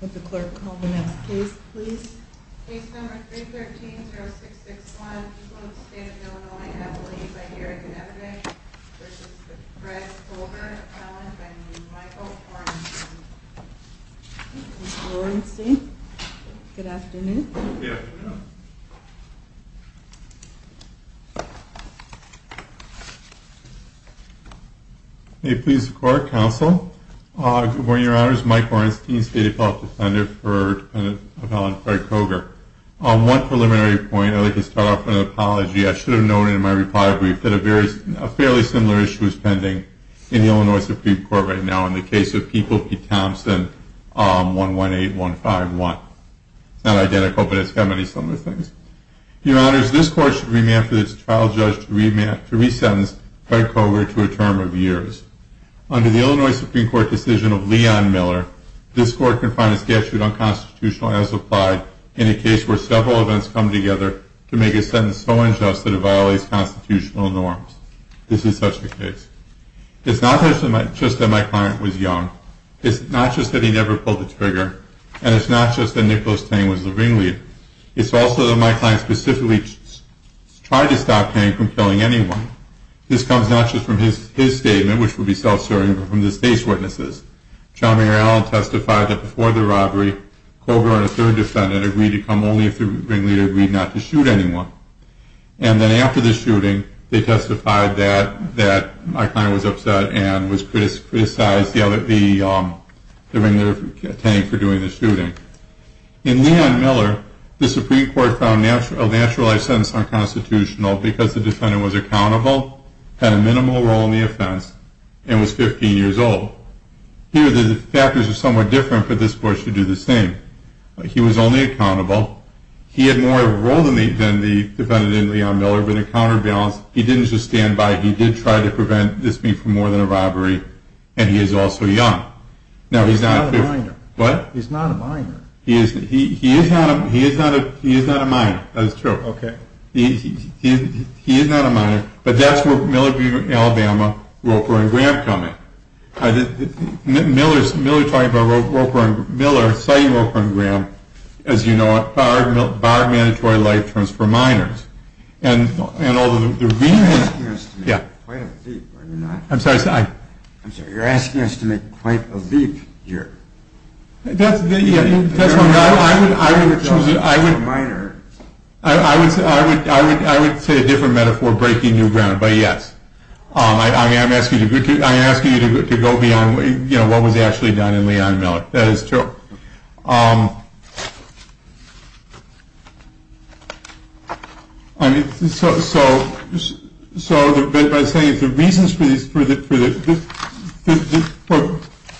Would the clerk call the next case please? Case number 313-0661, people of the state of Illinois and I believe I hear a good evidence. This is Fred Koger, a felon by the name of Michael Hornstein. Good afternoon. May it please the court, counsel. Good morning, your honors. Mike Hornstein, State Appellate Defender for a felon, Fred Koger. On one preliminary point, I'd like to start off with an apology. I should have noted in my reply brief that a fairly similar issue is pending in the Illinois Supreme Court right now in the case of People v. Thompson 118-151. It's not identical, but it's got many similar things. Your honors, this court should remand for this trial judge to resentence Fred Koger to a term of years. Under the Illinois Supreme Court decision of Leon Miller, this court can find a statute unconstitutional as applied in a case where several events come together to make a sentence so unjust that it violates constitutional norms. This is such a case. It's not just that my client was young. It's not just that he never pulled the trigger. And it's not just that Nicholas Tang was the ringleader. It's also that my client specifically tried to stop Tang from killing anyone. This comes not just from his statement, which would be self-serving, but from the state's witnesses. John Mayer Allen testified that before the robbery, Koger and a third defendant agreed to come only if the ringleader agreed not to shoot anyone. And then after the shooting, they testified that my client was upset and criticized the ringleader, Tang, for doing the shooting. In Leon Miller, the Supreme Court found a naturalized sentence unconstitutional because the defendant was accountable, had a minimal role in the offense, and was 15 years old. Here, the factors are somewhat different, but this court should do the same. He was only accountable. He had more of a role than the defendant in Leon Miller, but in counterbalance, he didn't just stand by. He did try to prevent this being more than a robbery, and he is also young. He's not a minor. He is not a minor, that is true. Okay. He is not a minor, but that's where Miller v. Alabama, Roper and Graham come in. Miller cited Roper and Graham as, you know, barred mandatory life terms for minors. You're asking us to make quite a leap here. I would say a different metaphor breaking new ground, but yes. I'm asking you to go beyond what was actually done in Leon Miller. That is true. I mean, so by saying the reasons for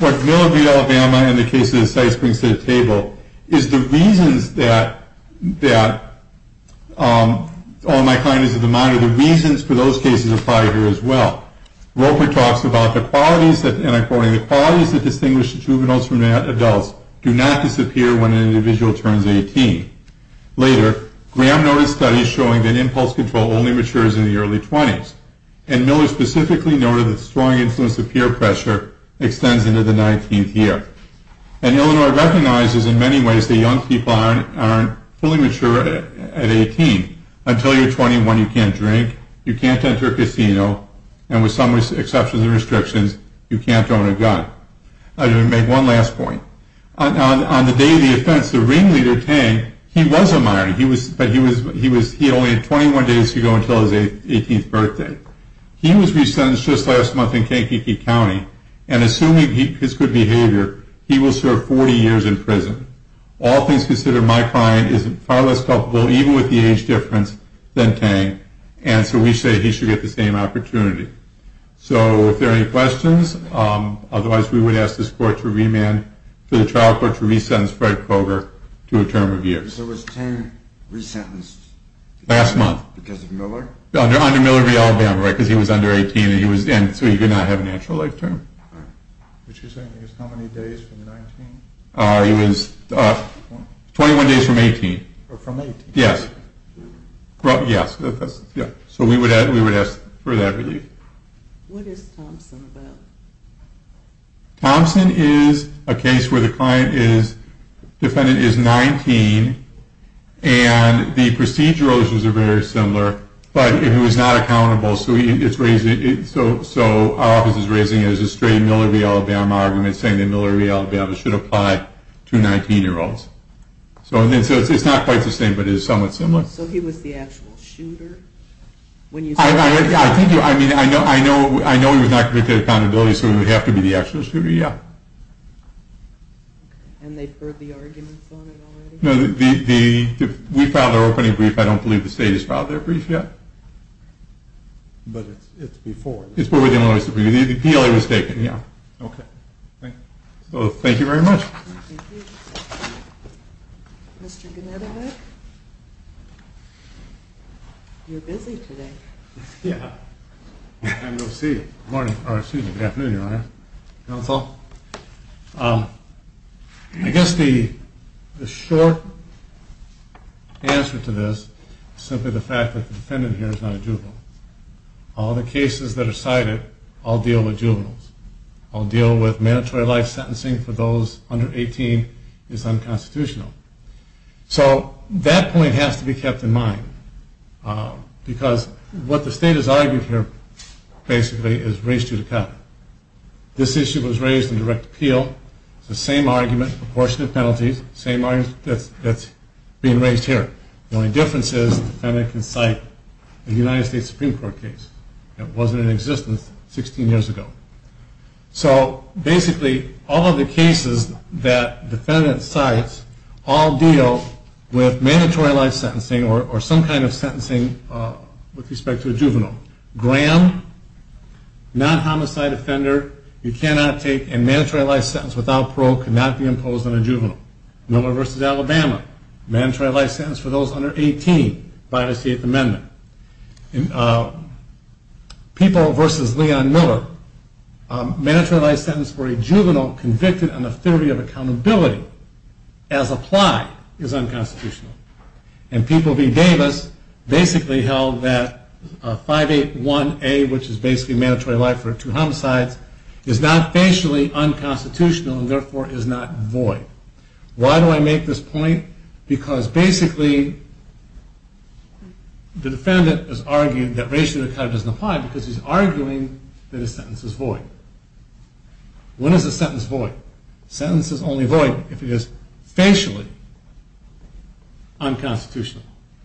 what Miller v. Alabama in the case of the Sykes brings to the table, is the reasons that, oh, my client is a minor, the reasons for those cases apply here as well. Roper talks about the qualities that, and I'm quoting, the qualities that distinguish the juveniles from the adults do not disappear when an individual turns 18. Later, Graham noted studies showing that impulse control only matures in the early 20s, and Miller specifically noted the strong influence of peer pressure extends into the 19th year. And Illinois recognizes in many ways that young people aren't fully mature at 18. Until you're 21, you can't drink, you can't enter a casino, and with some exceptions and restrictions, you can't own a gun. Let me make one last point. On the day of the offense, the ringleader, Tang, he was a minor, but he only had 21 days to go until his 18th birthday. He was re-sentenced just last month in Kankakee County, All things considered, my client is far less culpable, even with the age difference, than Tang, and so we say he should get the same opportunity. So if there are any questions, otherwise we would ask this court to remand to the trial court to re-sentence Fred Koger to a term of years. There was Tang re-sentenced? Last month. Because of Miller? Under Miller v. Alabama, right, because he was under 18, and so he did not have an actual life term. What you're saying is how many days from 19? He was 21 days from 18. From 18? Yes. So we would ask for that relief. What is Thompson about? Thompson is a case where the client is defendant is 19, and the procedural issues are very similar, but he was not accountable, so our office is raising it as a straight Miller v. Alabama argument, saying that Miller v. Alabama should apply to 19-year-olds. So it's not quite the same, but it is somewhat similar. So he was the actual shooter? I know he was not convicted of accountability, so he would have to be the actual shooter, yeah. And they've heard the arguments on it already? No, we filed our opening brief. I don't believe the state has filed their brief yet. But it's before. The PLA was taken, yeah. Okay. So thank you very much. Thank you. Mr. Genetovic? You're busy today. Yeah. Good afternoon, Your Honor. Counsel. I guess the short answer to this is simply the fact that the defendant here is not a juvenile. All the cases that are cited all deal with juveniles. All deal with mandatory life sentencing for those under 18 is unconstitutional. So that point has to be kept in mind, because what the state has argued here basically is race judicata. This issue was raised in direct appeal. It's the same argument, proportionate penalties, same argument that's being raised here. The only difference is the defendant can cite a United States Supreme Court case that wasn't in existence 16 years ago. So basically all of the cases that the defendant cites all deal with mandatory life sentencing or some kind of sentencing with respect to a juvenile. Graham, non-homicide offender, you cannot take a mandatory life sentence without parole, cannot be imposed on a juvenile. Miller v. Alabama, mandatory life sentence for those under 18 by the Eighth Amendment. People v. Leon Miller, mandatory life sentence for a juvenile convicted on the theory of accountability as applied is unconstitutional. And People v. Davis basically held that 581A, which is basically mandatory life for two homicides, is not facially unconstitutional and therefore is not void. Why do I make this point? Because basically the defendant has argued that race judicata doesn't apply because he's arguing that a sentence is void. When is a sentence void? A sentence is only void if it is facially unconstitutional.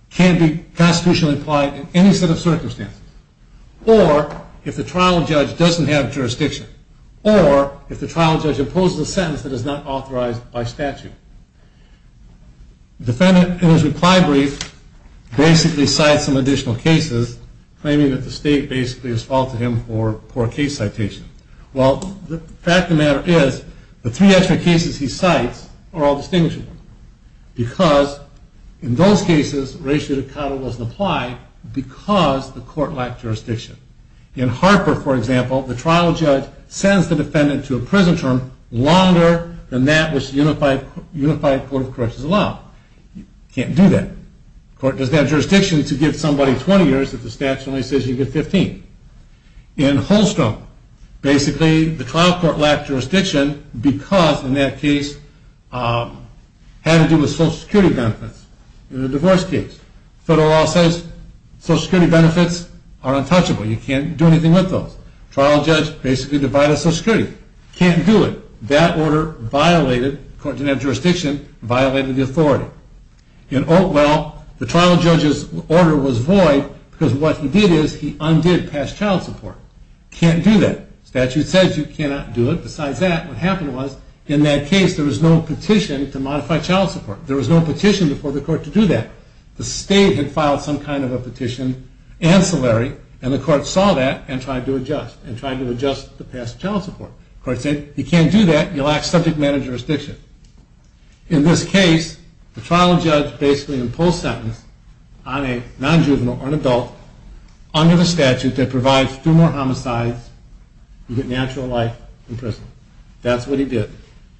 It can't be constitutionally implied in any set of circumstances. Or if the trial judge doesn't have jurisdiction. Or if the trial judge imposes a sentence that is not authorized by statute. The defendant in his reply brief basically cites some additional cases, claiming that the state basically has faulted him for poor case citation. Well, the fact of the matter is, the three extra cases he cites are all distinguishable. Because in those cases, race judicata doesn't apply because the court lacked jurisdiction. In Harper, for example, the trial judge sends the defendant to a prison term longer than that which the unified court of corrections allowed. You can't do that. The court doesn't have jurisdiction to give somebody 20 years if the statute only says you get 15. In Holstrom, basically the trial court lacked jurisdiction because, in that case, it had to do with social security benefits in a divorce case. Federal law says social security benefits are untouchable. You can't do anything with those. Trial judge basically divided social security. Can't do it. That order violated, the court didn't have jurisdiction, violated the authority. Well, the trial judge's order was void because what he did is he undid past child support. Can't do that. Statute says you cannot do it. Besides that, what happened was, in that case, there was no petition to modify child support. There was no petition before the court to do that. The state had filed some kind of a petition, ancillary, and the court saw that and tried to adjust, and tried to adjust the past child support. The court said, you can't do that. You lack subject matter jurisdiction. In this case, the trial judge basically imposed sentence on a non-juvenile or an adult under the statute that provides two more homicides, you get natural life in prison. That's what he did.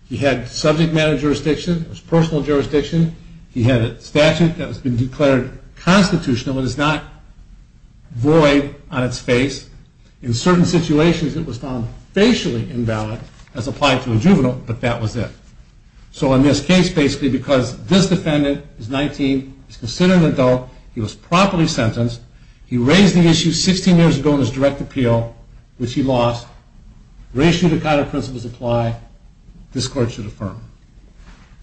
He had subject matter jurisdiction. It was personal jurisdiction. He had a statute that has been declared constitutional. It is not void on its face. In certain situations, it was found facially invalid as applied to a juvenile, but that was it. So in this case, basically, because this defendant is 19, he's considered an adult, he was properly sentenced. He raised the issue 16 years ago in his direct appeal, which he lost. Raised judicata principles apply. This court should affirm.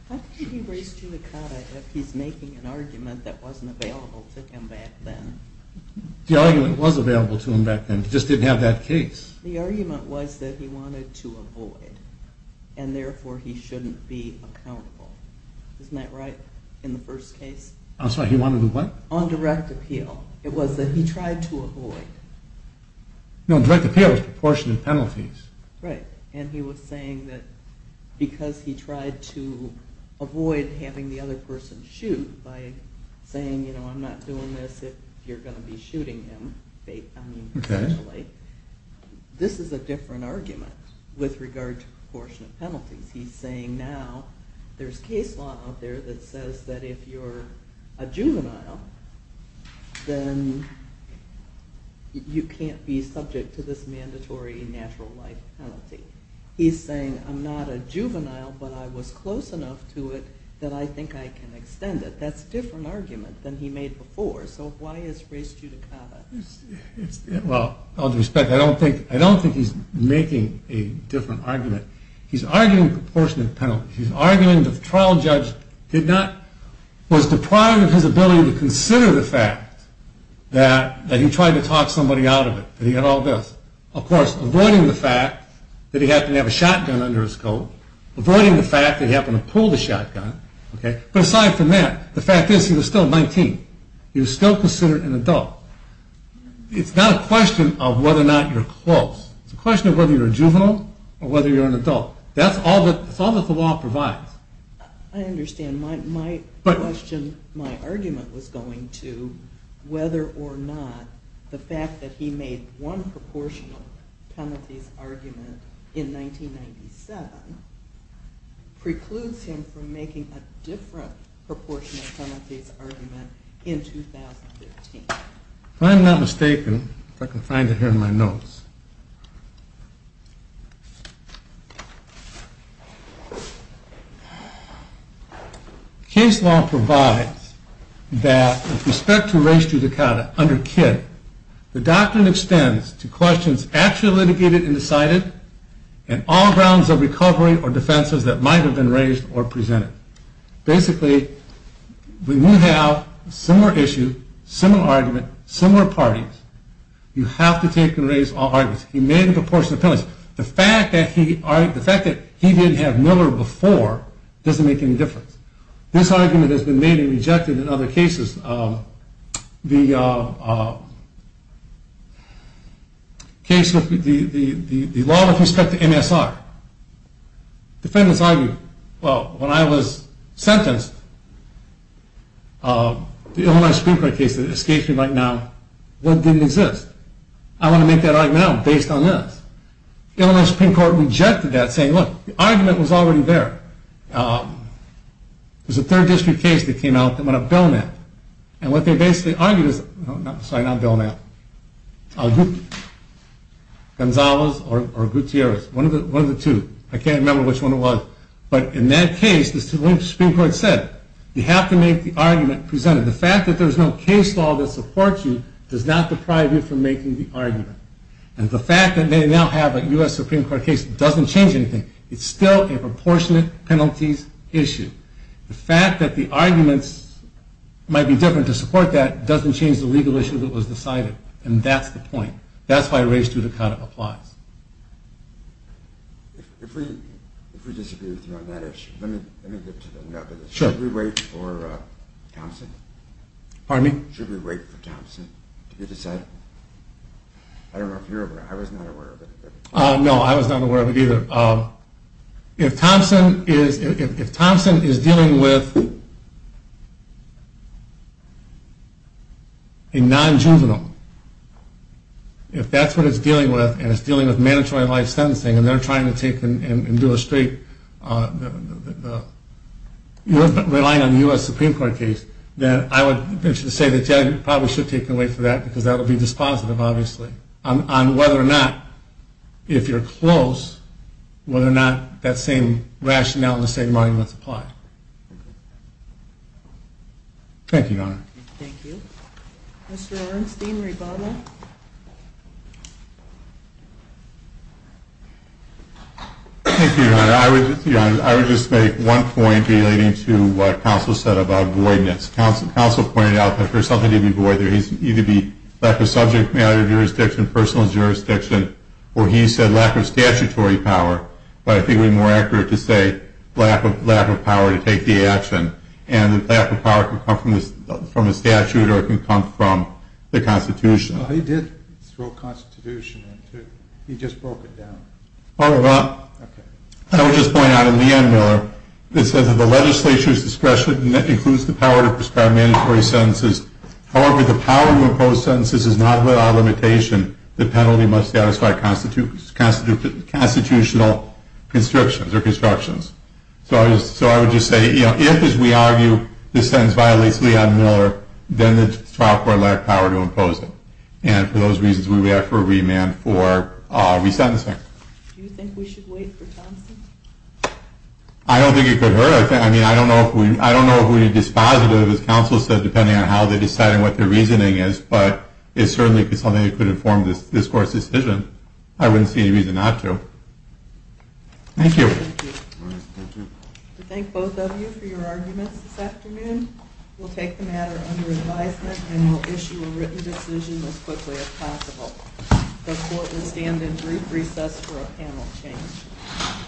Why did he raise judicata if he's making an argument that wasn't available to him back then? The argument was available to him back then. He just didn't have that case. The argument was that he wanted to avoid, and therefore he shouldn't be accountable. Isn't that right, in the first case? I'm sorry, he wanted to what? On direct appeal. It was that he tried to avoid. No, direct appeal is proportionate penalties. Right, and he was saying that because he tried to avoid having the other person shoot by saying, you know, I'm not doing this if you're going to be shooting him. I mean, potentially. This is a different argument with regard to proportionate penalties. He's saying now there's case law out there that says that if you're a juvenile, then you can't be subject to this mandatory natural life penalty. He's saying I'm not a juvenile, but I was close enough to it that I think I can extend it. That's a different argument than he made before. So why is race judicata? Well, with all due respect, I don't think he's making a different argument. He's arguing proportionate penalties. He's arguing the trial judge was deprived of his ability to consider the fact that he tried to talk somebody out of it, that he had all this. Of course, avoiding the fact that he happened to have a shotgun under his coat, avoiding the fact that he happened to pull the shotgun. But aside from that, the fact is he was still 19. He was still considered an adult. It's not a question of whether or not you're close. It's a question of whether you're a juvenile or whether you're an adult. That's all that the law provides. I understand. My question, my argument was going to whether or not the fact that he made one proportional penalties argument in 1997 precludes him from making a different proportional penalties argument in 2015. If I'm not mistaken, if I can find it here in my notes, case law provides that with respect to race judicata under KID, the doctrine extends to questions actually litigated and decided and all grounds of recovery or defenses that might have been raised or presented. Basically, when you have a similar issue, similar argument, similar parties, you have to take and raise all arguments. He made a proportional penalty. The fact that he didn't have Miller before doesn't make any difference. This argument has been made and rejected in other cases. The case with the law with respect to MSR. Defendants argue, well, when I was sentenced, the Illinois Supreme Court case that escapes me right now, that didn't exist. I want to make that argument now based on this. The Illinois Supreme Court rejected that saying, look, the argument was already there. It was a third district case that came out that went up bail now. And what they basically argued is, sorry, not bail now, Gonzalez or Gutierrez, one of the two. I can't remember which one it was. But in that case, the Supreme Court said, you have to make the argument presented. The fact that there's no case law that supports you does not deprive you from making the argument. And the fact that they now have a U.S. Supreme Court case doesn't change anything. It's still a proportionate penalties issue. The fact that the arguments might be different to support that doesn't change the legal issue that was decided. And that's the point. That's why race judicata applies. If we disagree with you on that issue, let me get to the nub of this. Sure. Should we wait for Thompson? Pardon me? Should we wait for Thompson to be decided? I don't know if you're aware. I was not aware of it. No, I was not aware of it either. If Thompson is dealing with a non-juvenile, if that's what it's dealing with and it's dealing with mandatory life sentencing and they're trying to take and do a straight, you're relying on the U.S. Supreme Court case, then I would venture to say that you probably should take away from that because that would be dispositive obviously on whether or not, if you're close, whether or not that same rationale and the same arguments apply. Thank you, Your Honor. Thank you. Mr. Orenstein, rebuttal. Thank you, Your Honor. I would just make one point relating to what counsel said about voidness. Counsel pointed out that for something to be void there needs to be either lack of subject matter jurisdiction, personal jurisdiction, or he said lack of statutory power. But I think it would be more accurate to say lack of power to take the action. And the lack of power can come from a statute or it can come from the Constitution. He did throw a Constitution in too. He just broke it down. I would just point out in Leon Miller it says that the legislature's discretion includes the power to prescribe mandatory sentences. However, the power to impose sentences is not without limitation. The penalty must satisfy constitutional constrictions or constructions. So I would just say if, as we argue, this sentence violates Leon Miller, then the trial court lacked power to impose it. And for those reasons, we would ask for a remand for resentencing. Do you think we should wait for Thompson? I don't think it could hurt. I mean, I don't know if we need dispositive, as counsel said, depending on how they decide and what their reasoning is. But it certainly is something that could inform this Court's decision. I wouldn't see any reason not to. Thank you. Thank you. We thank both of you for your arguments this afternoon. We'll take the matter under advisement and we'll issue a written decision as quickly as possible. The Court will stand in brief recess for a panel change.